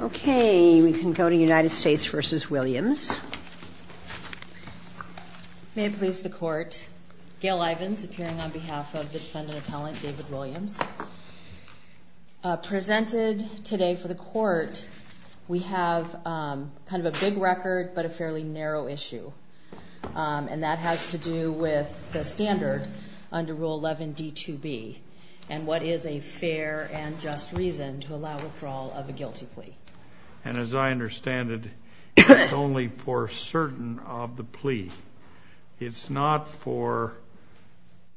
Okay we can go to United States v. Williams. May it please the court, Gail Ivins appearing on behalf of defendant appellant David Williams. Presented today for the court we have kind of a big record but a fairly narrow issue and that has to do with the standard under Rule 11 D2B and what is a fair and just reason to allow withdrawal of a guilty plea. And as I understand it it's only for certain of the plea. It's not for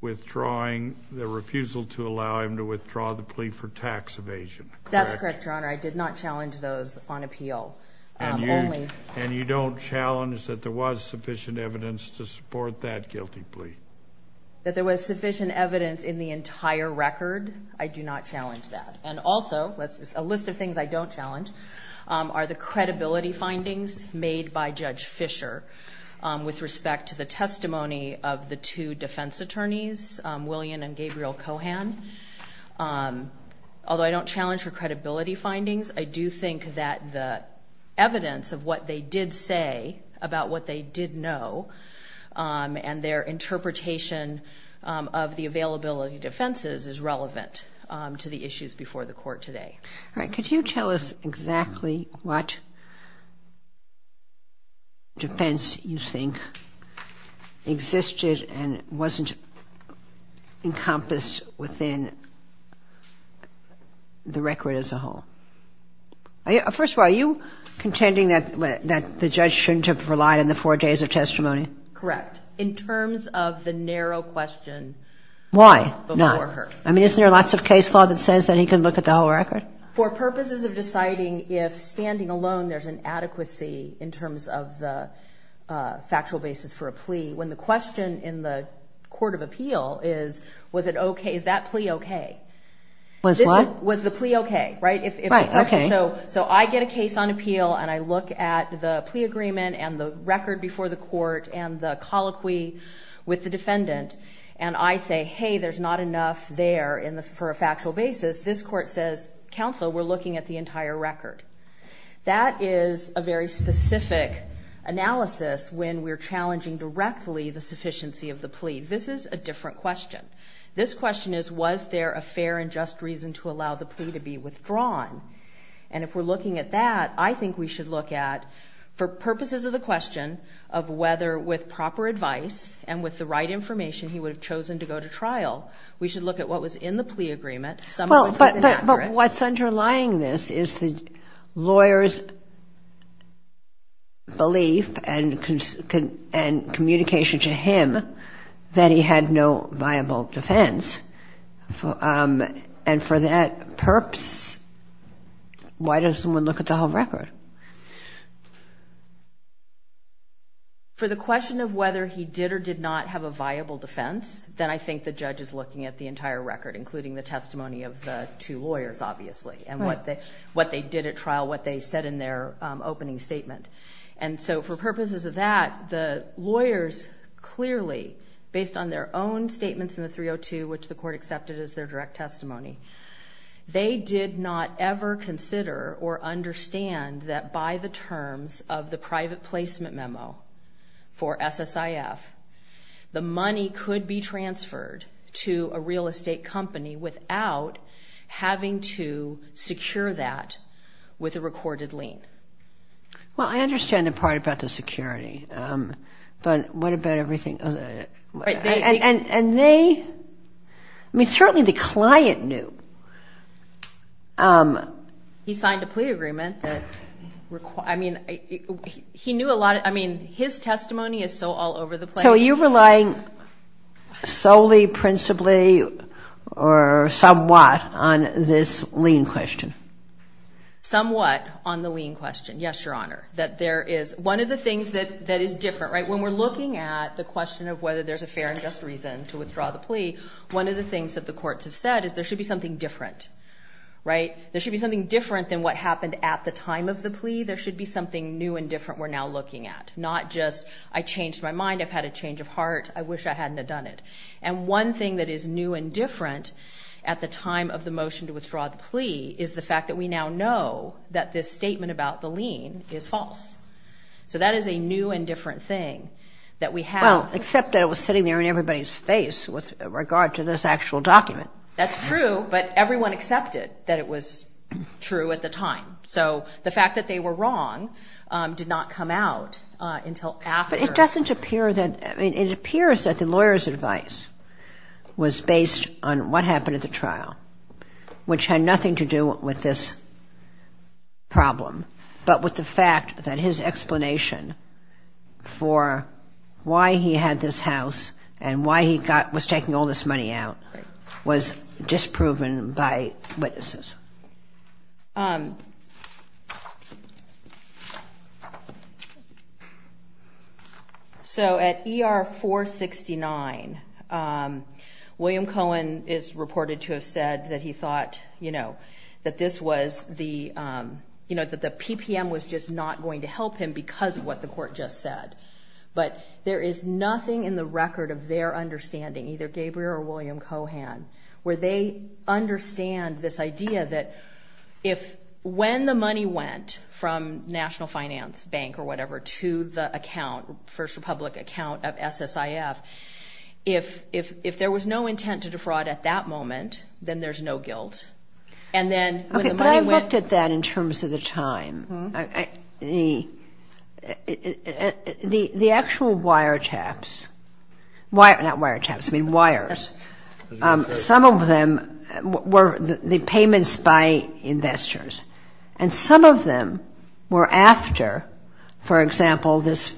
withdrawing the refusal to allow him to withdraw the plea for tax evasion. That's correct your honor I did not challenge those on appeal. And you don't challenge that there was sufficient evidence to support that guilty plea? That there was sufficient evidence in the entire record? I do not challenge that. And also a list of things I don't challenge are the credibility findings made by Judge Fisher with respect to the testimony of the two defense attorneys William and Gabriel Cohan. Although I don't challenge her credibility findings I do think that the evidence of what they did say about what they did know and their interpretation of the availability defenses is relevant to the issues before the court today. All right could you tell us exactly what defense you think existed and wasn't encompassed within the record as a whole? First of all are you contending that that the judge shouldn't have relied on the four days of testimony? Correct in terms of the narrow question. Why not? I mean is there lots of case law that says that he can look at the whole record? For purposes of deciding if standing alone there's an adequacy in terms of the factual basis for a plea when the question in the court of appeal is was it okay is that plea okay? Was what? Was the plea okay right? Okay so so I get a case on appeal and I look at the plea agreement and the record before the court and the colloquy with the defendant and I say hey there's not enough there in the for a factual basis. This court says counsel we're looking at the entire record. That is a very specific analysis when we're challenging directly the sufficiency of the plea. This is a different question. This question is was there a fair and just reason to allow the plea to be withdrawn? And if we're looking at that I think we should look at for purposes of the question of whether with proper advice and with the right information he would have chosen to go to trial we should look at what was in the plea agreement. But what's underlying this is the lawyers belief and communication to him that he had no viable defense and for that purpose why doesn't one look at the whole record? For the question of whether he did or did not have a viable defense then I think the judge is looking at the entire record including the testimony of the two lawyers obviously and what they what they did at trial what they said in their opening statement. And so for purposes of that the lawyers clearly based on their own statements in the 302 which the court accepted as their direct testimony, they did not ever consider or understand that by the terms of the private placement memo for SSIF the money could be transferred to a real estate company without having to secure that with a recorded lien. Well I understand the part about the security but what about everything and they I mean certainly the client knew. He signed a plea agreement that I mean he knew a lot I mean his testimony is so all over the place. So are you relying solely principally or somewhat on this lien question? Somewhat on the lien question yes your honor that there is one of the things that that is different right when we're looking at the question of whether there's a fair and just reason to withdraw the plea one of the things that the courts have said is there should be something different right there should be something different than what happened at the time of the plea there should be something new and different we're now looking at not just I changed my mind I've had a change of heart I wish I hadn't done it and one thing that is new and different at the time of the motion to withdraw the plea is the fact that we now know that this Well except that it was sitting there in everybody's face with regard to this actual document. That's true but everyone accepted that it was true at the time so the fact that they were wrong did not come out until after. It doesn't appear that it appears that the lawyers advice was based on what happened at the trial which had nothing to do with this problem but with the fact that his explanation for why he had this house and why he got was taking all this money out was disproven by witnesses so at ER 469 William Cohen is reported to have said that he thought you know that this was the you know that the PPM was just not going to help him because what the court just said but there is nothing in the record of their understanding either Gabriel or William Cohen where they understand this idea that if when the money went from National Finance Bank or whatever to the account First Republic account of SSIF if if if there was no intent to defraud at that moment then there's no guilt and then I looked at that in terms of the time the the the actual wiretaps wire not wiretaps I mean wires some of them were the payments by investors and some of them were after for example this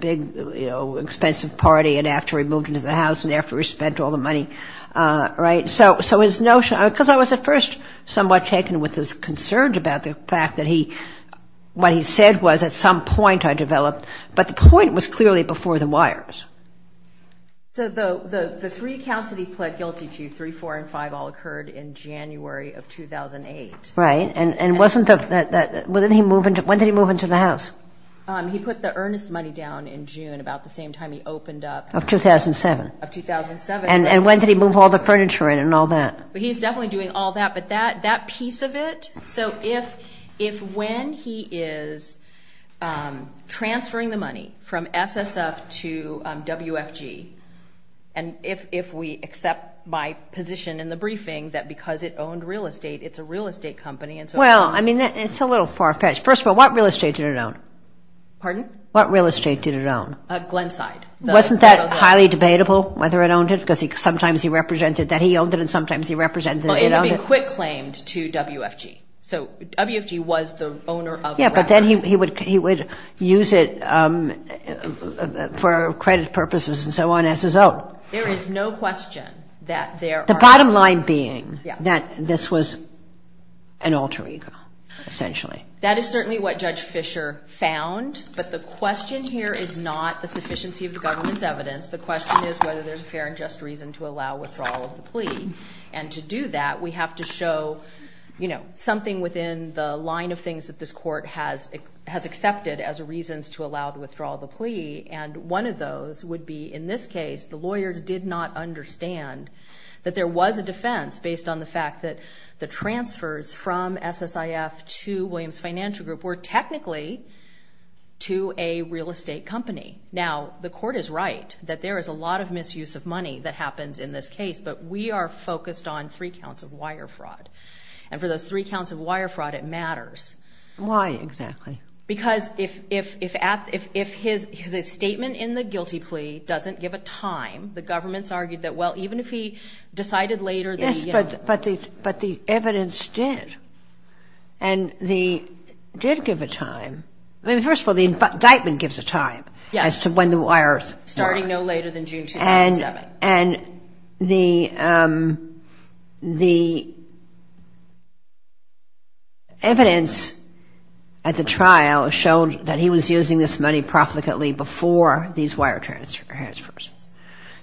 big you know expensive party and after we moved into the house and after we spent all the money right so so his notion because I was at first somewhat taken with his concerns about the fact that he what he said was at some point I developed but the point was clearly before the wires so the three counts that he pled guilty to three four and five all occurred in January of 2008 right and and wasn't that within he moving to when did he move into the house he put the earnest money down in June about the same time he opened up of 2007 of 2007 and and when did he move all the furniture in and all that he's definitely doing all that but that that piece of it so if if when he is transferring the money from SSF to WFG and if if we accept my position in the briefing that because it owned real estate it's a real estate company and so well I mean it's a little far-fetched first of all what real estate did it own pardon what real estate did it own Glenside wasn't that highly debatable whether it owned it because he sometimes he represented that he owned it and sometimes he represented it owned it. It had been quit claimed to WFG so WFG was the owner of. Yeah but then he would he would use it for credit purposes and so on as his own. There is no question that there. The bottom line being that this was an alter ego essentially. That is certainly what Judge Fischer found but the question here is not the sufficiency of the government's evidence the question is whether there's a fair and just reason to allow withdrawal of the plea and to do that we have to show you know something within the line of things that this court has it has accepted as a reasons to allow to withdraw the plea and one of those would be in this case the lawyers did not understand that there was a defense based on the fact that the transfers from SSIF to Williams Financial Group were technically to a real estate company. Now the court is right that there is a lot of misuse of money that happens in this case but we are focused on three counts of wire fraud and for those three counts of wire fraud it matters. Why exactly? Because if his statement in the guilty plea doesn't give a time the government's argued that well even if he decided later. Yes but the evidence did and the did give a time. I mean first of all the indictment gives a time as to when the wires. Starting no later than June 2007. And the evidence at the trial showed that he was using this money profligately before these wire transfers.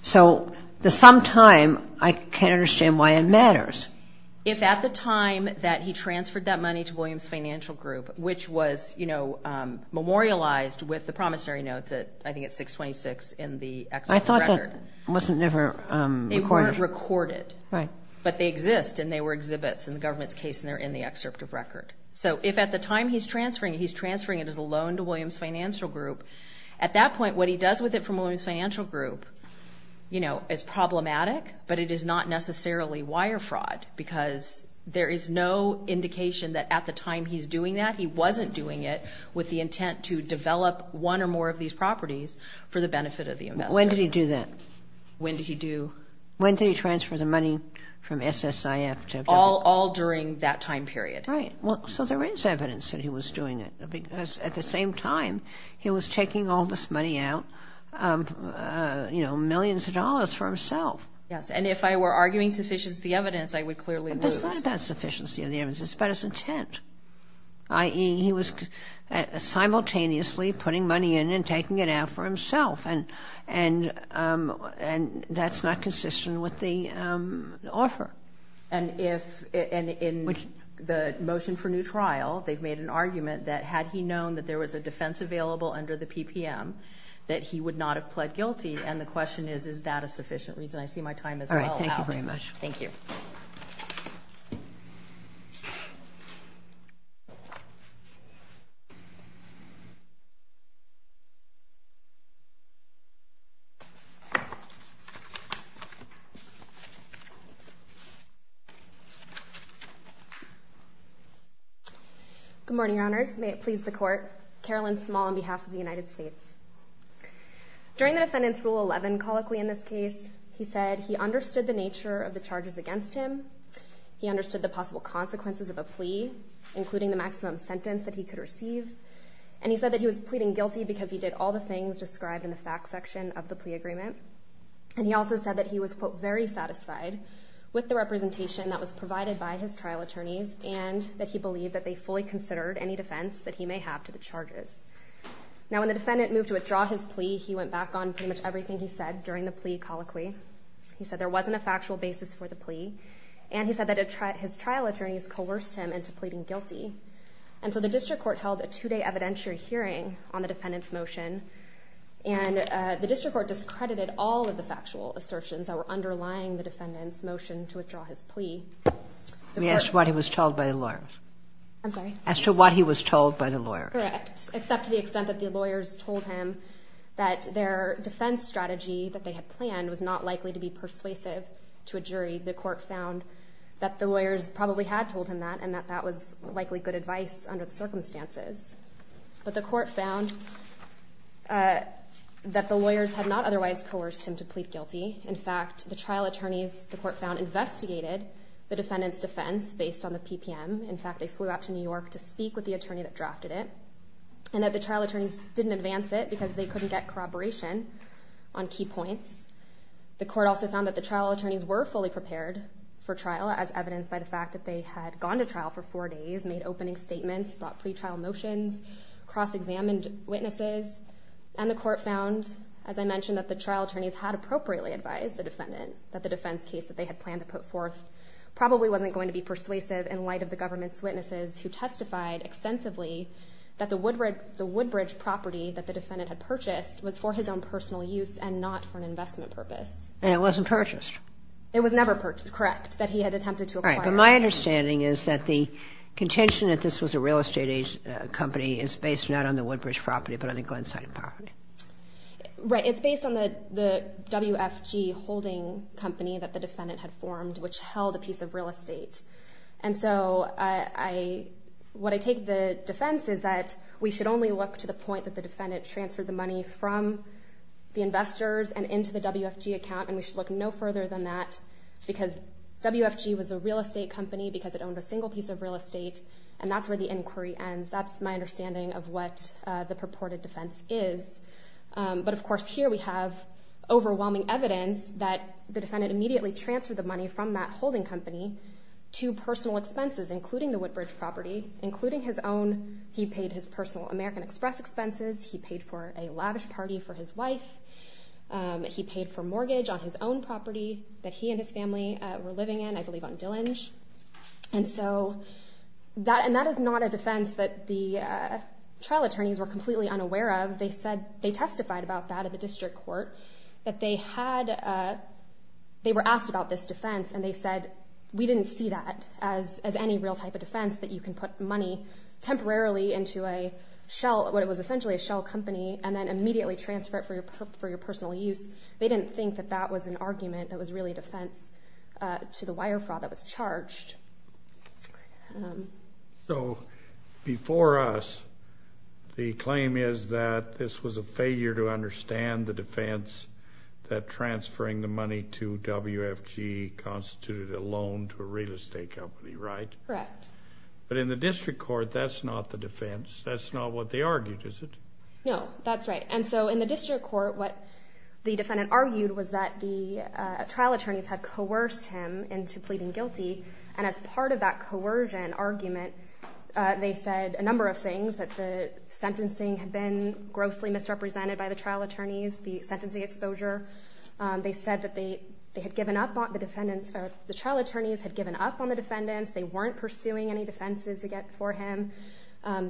So the sometime I can't understand why it matters. If at the time that he transferred that money to Williams Financial Group which was you know memorialized with the promissory notes at I think it's 626 in the. I thought that wasn't ever recorded. Right but they exist and they were exhibits in the government's case and they're in the excerpt of record. So if at the time he's transferring he's transferring it as a loan to Williams Financial Group at that point what he does with it from Williams Financial Group you know it's problematic but it is not necessarily wire fraud because there is no indication that at the time he's doing that he wasn't doing it with the intent to develop one or more of these properties for the benefit of the investors. When did he do that? When did he do? When did he transfer the money from SSIF? All during that time period. Right well so there is evidence that he was doing it because at the same time he was taking all this money out you know millions of dollars for himself. Yes and if I were arguing sufficiency of the evidence I would clearly lose. It's not about sufficiency of the evidence. It's about his intent. I.e. he was simultaneously putting money in and taking it out for himself and and and that's not consistent with the offer. And if and in the motion for new trial they've made an argument that had he known that there was a defense available under the PPM that he would not have pled guilty and the question is is that a sufficient reason? I see my time is all right thank you very much. Thank you. Good morning, Your Honors. May it please the court. Carolyn Small on behalf of the United States. During the defendant's Rule 11 colloquy in this case he said he understood the nature of the charges against him. He understood the possible consequences of a plea including the maximum sentence that he could receive and he said that he was pleading guilty because he did all the things described in the fact section of the plea agreement and he also said that he was quote very satisfied with the representation that was provided by his trial attorneys and that he believed that they fully considered any defense that he may have to the charges. Now when the defendant moved to withdraw his plea he went back on pretty much everything he said during the plea colloquy. He said there wasn't a factual basis for the plea and he said that his trial attorneys coerced him into pleading guilty and so the district court held a two-day evidentiary hearing on the defendant's motion and the district court discredited all of the factual assertions that were underlying the defendant's motion to withdraw his plea. We asked what he was told by the lawyers. I'm sorry. As to what he was told by the lawyers. Correct. Except to the extent that the lawyers told him that their defense strategy that they had planned was not likely to be persuasive to a jury the court found that the lawyers probably had told him that and that that was likely good advice under the circumstances but the court found that the lawyers had not otherwise coerced him to plead guilty. In fact the trial attorneys the court found investigated the defendant's defense based on the PPM. In fact they flew out to New York to speak with the attorney that drafted it and that the trial attorneys didn't advance it because they couldn't get corroboration on key points. The court also found that the trial attorneys were fully prepared for trial as evidenced by the fact that they had gone to trial for four days, made opening statements, brought pre-trial motions, cross-examined witnesses and the court found as I mentioned that the trial attorneys had appropriately advised the defendant that the defense case that they had planned to put forth probably wasn't going to be persuasive in light of the government's witnesses who testified extensively that the Woodbridge property that the defendant had purchased was for his own personal use and not for an investment purpose. And it wasn't purchased. It was never purchased Correct. That he had attempted to acquire. But my understanding is that the contention that this was a real estate age company is based not on the Woodbridge property but on a Glenside property. Right it's based on the the WFG holding company that the defendant had formed which held a piece of real estate and so I what I take the defense is that we should only look to the point that the defendant transferred the money from the investors and into the WFG account and we should look no further than that because WFG was a real estate company because it owned a single piece of real estate and that's where the inquiry ends. That's my understanding of what the purported defense is. But of course here we have overwhelming evidence that the defendant immediately transferred the money from that holding company to personal expenses including the Woodbridge property, including his own. He paid his personal American Express expenses. He paid for mortgage on his own property that he and his family were living in I believe on Dillinge. And so that and that is not a defense that the trial attorneys were completely unaware of. They said they testified about that at the district court that they had they were asked about this defense and they said we didn't see that as as any real type of defense that you can put money temporarily into a shell what it was essentially a shell company and then they didn't think that that was an argument that was really defense to the wire fraud that was charged. So before us the claim is that this was a failure to understand the defense that transferring the money to WFG constituted a loan to a real estate company right? Correct. But in the district court that's not the defense that's not what they argued is it? No that's right and so in the district court what the defendant argued was that the trial attorneys had coerced him into pleading guilty and as part of that coercion argument they said a number of things that the sentencing had been grossly misrepresented by the trial attorneys the sentencing exposure they said that they they had given up on the defendants or the trial attorneys had given up on the defendants they weren't pursuing any defenses to get for him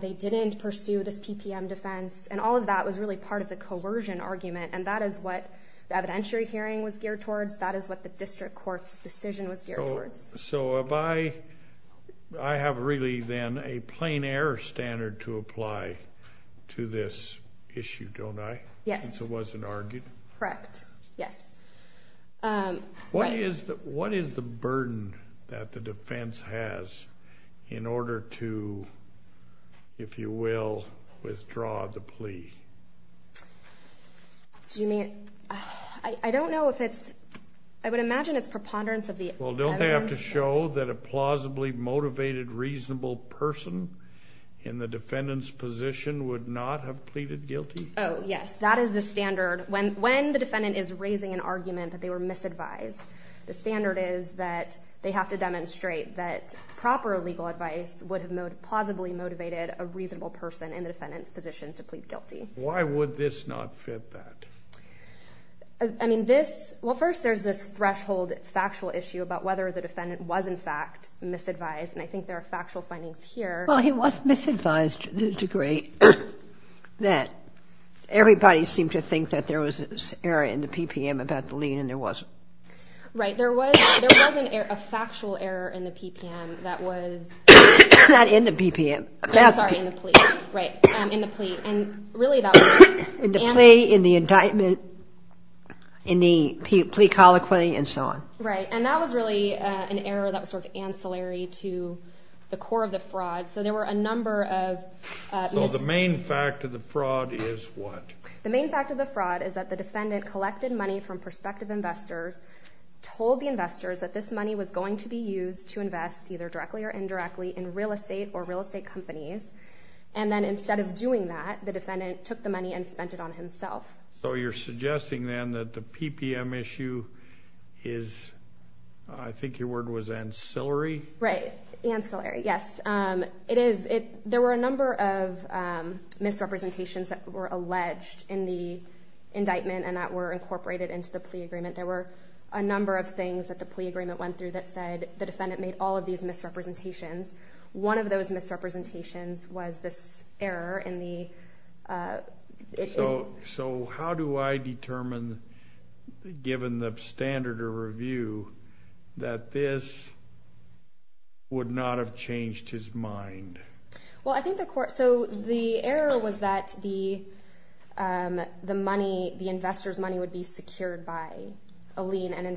they didn't pursue this PPM defense and all of that was really part of the coercion argument and that is what the evidentiary hearing was geared towards that is what the district courts decision was geared towards. So if I I have really then a plain-air standard to apply to this issue don't I? Yes. So it wasn't argued? Correct yes. What is that what is the burden that the defense has in order to if you will withdraw the plea? Do you mean I don't know if it's I would imagine it's preponderance of the evidence. Well don't they have to show that a plausibly motivated reasonable person in the defendant's position would not have pleaded guilty? Oh yes that is the standard when when the defendant is raising an argument that they were misadvised the standard is that they have to demonstrate that proper legal Why would this not fit that? I mean this well first there's this threshold factual issue about whether the defendant was in fact misadvised and I think there are factual findings here. Well he was misadvised to the degree that everybody seemed to think that there was an error in the PPM about the lien and there wasn't. Right there was a factual error in the PPM that was not in the PPM in the indictment in the plea colloquy and so on. Right and that was really an error that was sort of ancillary to the core of the fraud so there were a number of. So the main fact of the fraud is what? The main fact of the fraud is that the defendant collected money from prospective investors told the investors that this money was going to be used to invest either directly or indirectly in real estate or real estate companies and then instead of doing that the defendant took the money and spent it on himself. So you're suggesting then that the PPM issue is I think your word was ancillary? Right ancillary yes it is it there were a number of misrepresentations that were alleged in the indictment and that were incorporated into the plea agreement there were a number of things that the plea agreement went through that said the defendant made all of these misrepresentations. One of those misrepresentations was this error in the. So how do I determine given the standard of review that this would not have changed his mind? Well I think the court so the error was that the the money the investors money would be secured by the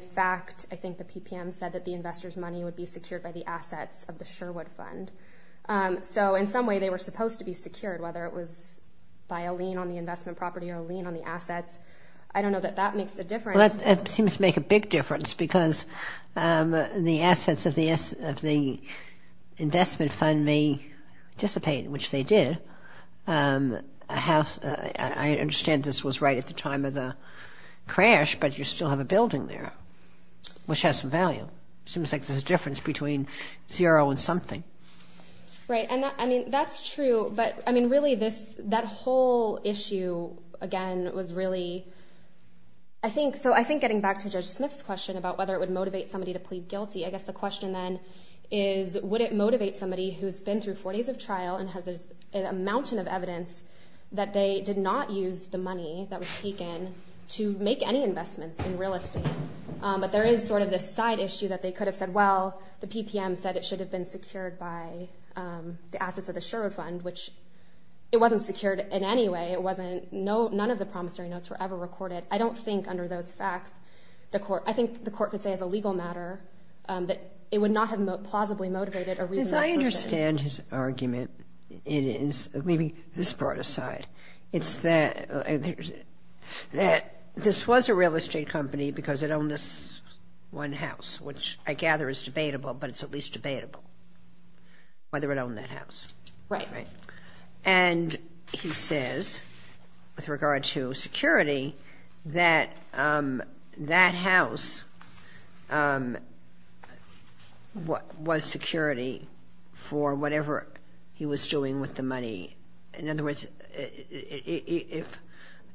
assets of the Sherwood fund. So in some way they were supposed to be secured whether it was by a lien on the investment property or lien on the assets. I don't know that that makes a difference. It seems to make a big difference because the assets of the investment fund may dissipate which they did. I understand this was right at the time of the crash but you still have a building there which has some value. Seems like there's a difference between zero and something. Right and I mean that's true but I mean really this that whole issue again was really I think so I think getting back to Judge Smith's question about whether it would motivate somebody to plead guilty I guess the question then is would it motivate somebody who's been through four days of trial and has a mountain of evidence that they did not use the money that was taken to make any investments in real estate but there is sort of this side issue that they could have said well the PPM said it should have been secured by the assets of the Sherwood fund which it wasn't secured in any way it wasn't no none of the promissory notes were ever recorded. I don't think under those facts the court I think the court could say as a legal matter that it would not have plausibly motivated a reasonable person. I understand his argument it is leaving this part aside it's that that this was a real estate company because it owned this one house which I gather is debatable but it's at least debatable whether it owned that house. Right. And he says with that house what was security for whatever he was doing with the money in other words if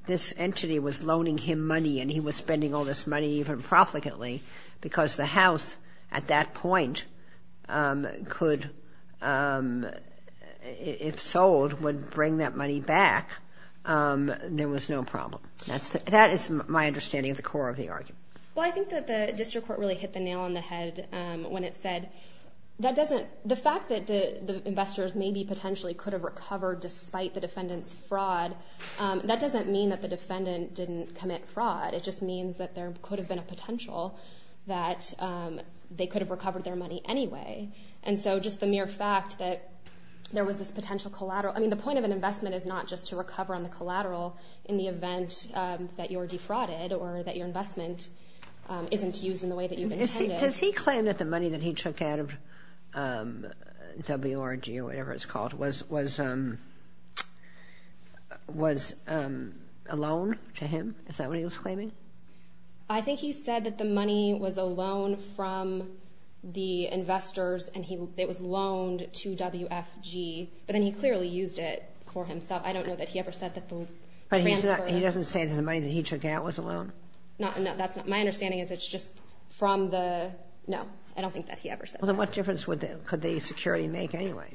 this entity was loaning him money and he was spending all this money even profligately because the house at that point could if sold would bring that money back there was no problem that's that is my understanding of the core of the argument. Well I think that the district court really hit the nail on the head when it said that doesn't the fact that the investors may be potentially could have recovered despite the defendants fraud that doesn't mean that the defendant didn't commit fraud it just means that there could have been a potential that they could have recovered their money anyway and so just the mere fact that there was this potential collateral I mean the point of an investment is not just to recover on the collateral in the event that you're defrauded or that your investment isn't used in the way that you've intended. Does he claim that the money that he took out of WRG or whatever it's called was alone to him? Is that what he was claiming? I think he said that the money was a loan from the investors and he it was loaned to WFG but then he clearly used it for himself I don't know that he ever said that the money that he took out was a loan? No that's not my understanding is it's just from the no I don't think that he ever said. Well then what difference would that could the security make anyway?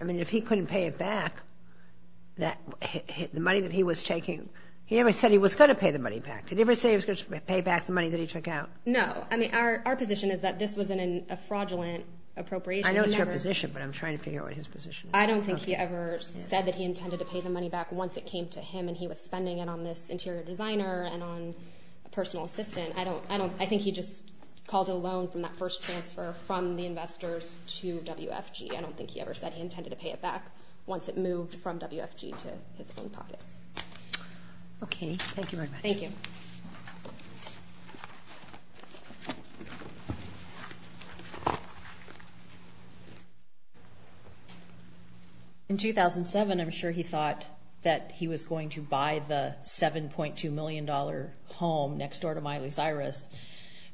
I mean if he couldn't pay it back that the money that he was taking he never said he was going to pay the money back did he ever say he was going to pay back the money that he took out? No I mean our position is that this was in a fraudulent appropriation. I know it's your position but I'm trying to figure out what his position is. I don't think he ever said that he intended to pay the money back once it came to him and he was spending it on this interior designer and on a personal assistant. I don't I don't I think he just called it a loan from that first transfer from the investors to WFG. I don't think he ever said he intended to pay it back once it moved from WFG to his own pockets. Okay thank you very much. In 2007 I'm sure he thought that he was going to buy the 7.2 million dollar home next door to Miley Cyrus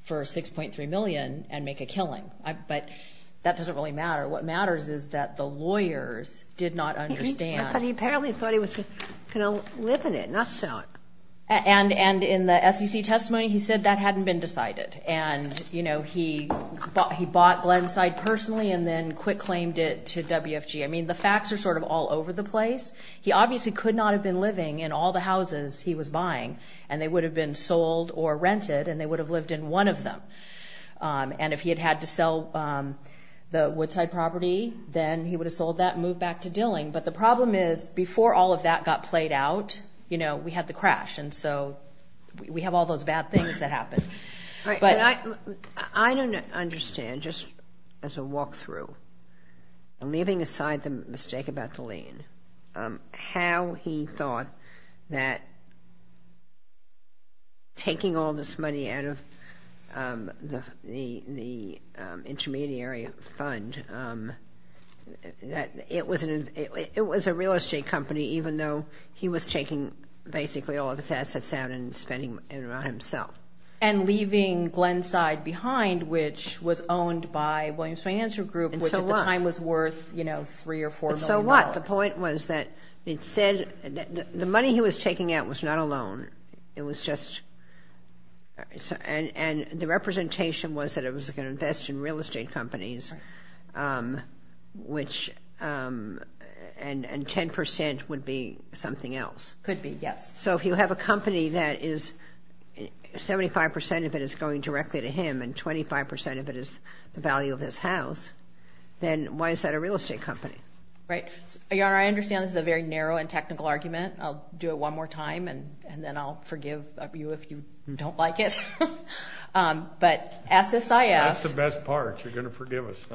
for 6.3 million and make a killing but that doesn't really matter what matters is that the can live in it not sell it. And and in the SEC testimony he said that hadn't been decided and you know he bought he bought Glenside personally and then quick claimed it to WFG. I mean the facts are sort of all over the place. He obviously could not have been living in all the houses he was buying and they would have been sold or rented and they would have lived in one of them and if he had had to sell the Woodside property then he would have sold that moved back to Dilling but the problem is before all of that got played out you know we had the crash and so we have all those bad things that happen. I don't understand just as a walkthrough leaving aside the mistake about the lien how he thought that taking all this money out of the the intermediary fund that it was it was a real estate company even though he was taking basically all of his assets out and spending it on himself. And leaving Glenside behind which was owned by Williams financial group which at the time was worth you know three or four. So what the point was that it said that the money he was taking out was not a loan it was just and and the representation was that it was gonna invest in real estate companies which and and 10% would be something else. Could be yes. So if you have a company that is 75% of it is going directly to him and 25% of it is the value of this house then why is that a real estate company? Right your honor I understand this is a very narrow and technical argument I'll do it one more time and and then I'll forgive you if you don't like it. But SSIF. That's the best part you're gonna forgive us.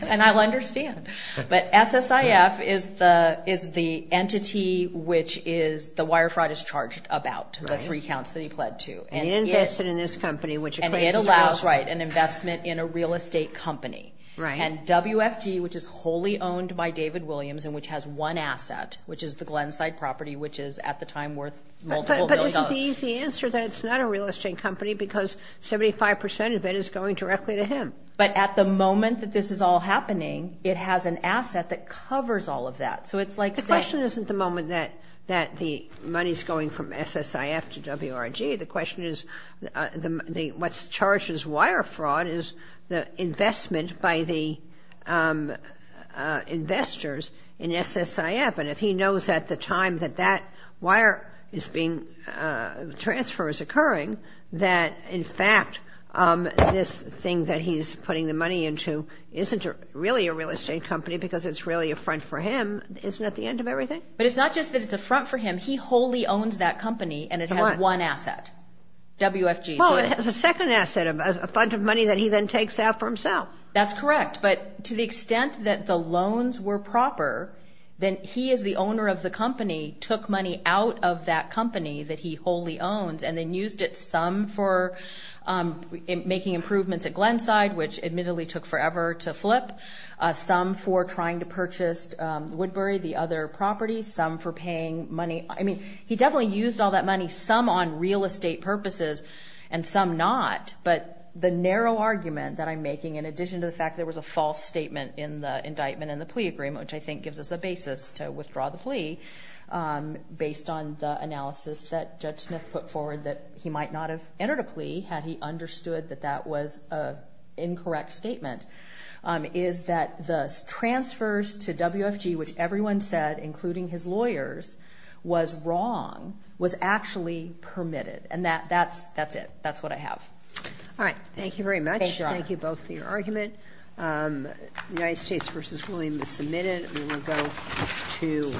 And I'll understand but SSIF is the is the entity which is the wire fraud is charged about the three counts that he pled to. And he invested in this company which it allows right an investment in a real estate company. Right. And WFT which is wholly owned by David Williams and which has one asset which is the Glenside property which is at the time worth. But isn't the easy answer that it's not a real estate company because 75% of it is going directly to him. But at the moment that this is all happening it has an asset that covers all of that so it's like. The question isn't the moment that that the money's going from SSIF to WRG the question is the what's charges wire fraud is the investment by the investors in SSIF and if he knows at the time that that wire is being transfer is occurring that in fact this thing that he's putting the money into isn't really a real estate company because it's really a front for him isn't at the end of everything. But it's not just that it's a front for him he wholly owns that company and it has one asset WFG. Well it has a second asset of a fund of money that he then takes out for himself. That's correct but to the extent that the loans were proper then he is the owner of the company took money out of that company that he wholly owns and then used it some for making improvements at Glenside which admittedly took forever to flip. Some for trying to purchase Woodbury the other property some for paying money. I mean he definitely used all that money some on real estate purposes and some not. But the narrow argument that I'm making in addition to the fact there was a false statement in the indictment and the plea agreement which I think gives us a basis to withdraw the plea based on the analysis that Judge Smith put forward that he might not have entered a plea had he understood that that was a incorrect statement is that the transfers to WFG which everyone said including his lawyers was wrong was actually permitted and that that's that's it that's what I have. All right thank you very much thank you both for your UNITED STATES V. WILLIAMS submitted moving on to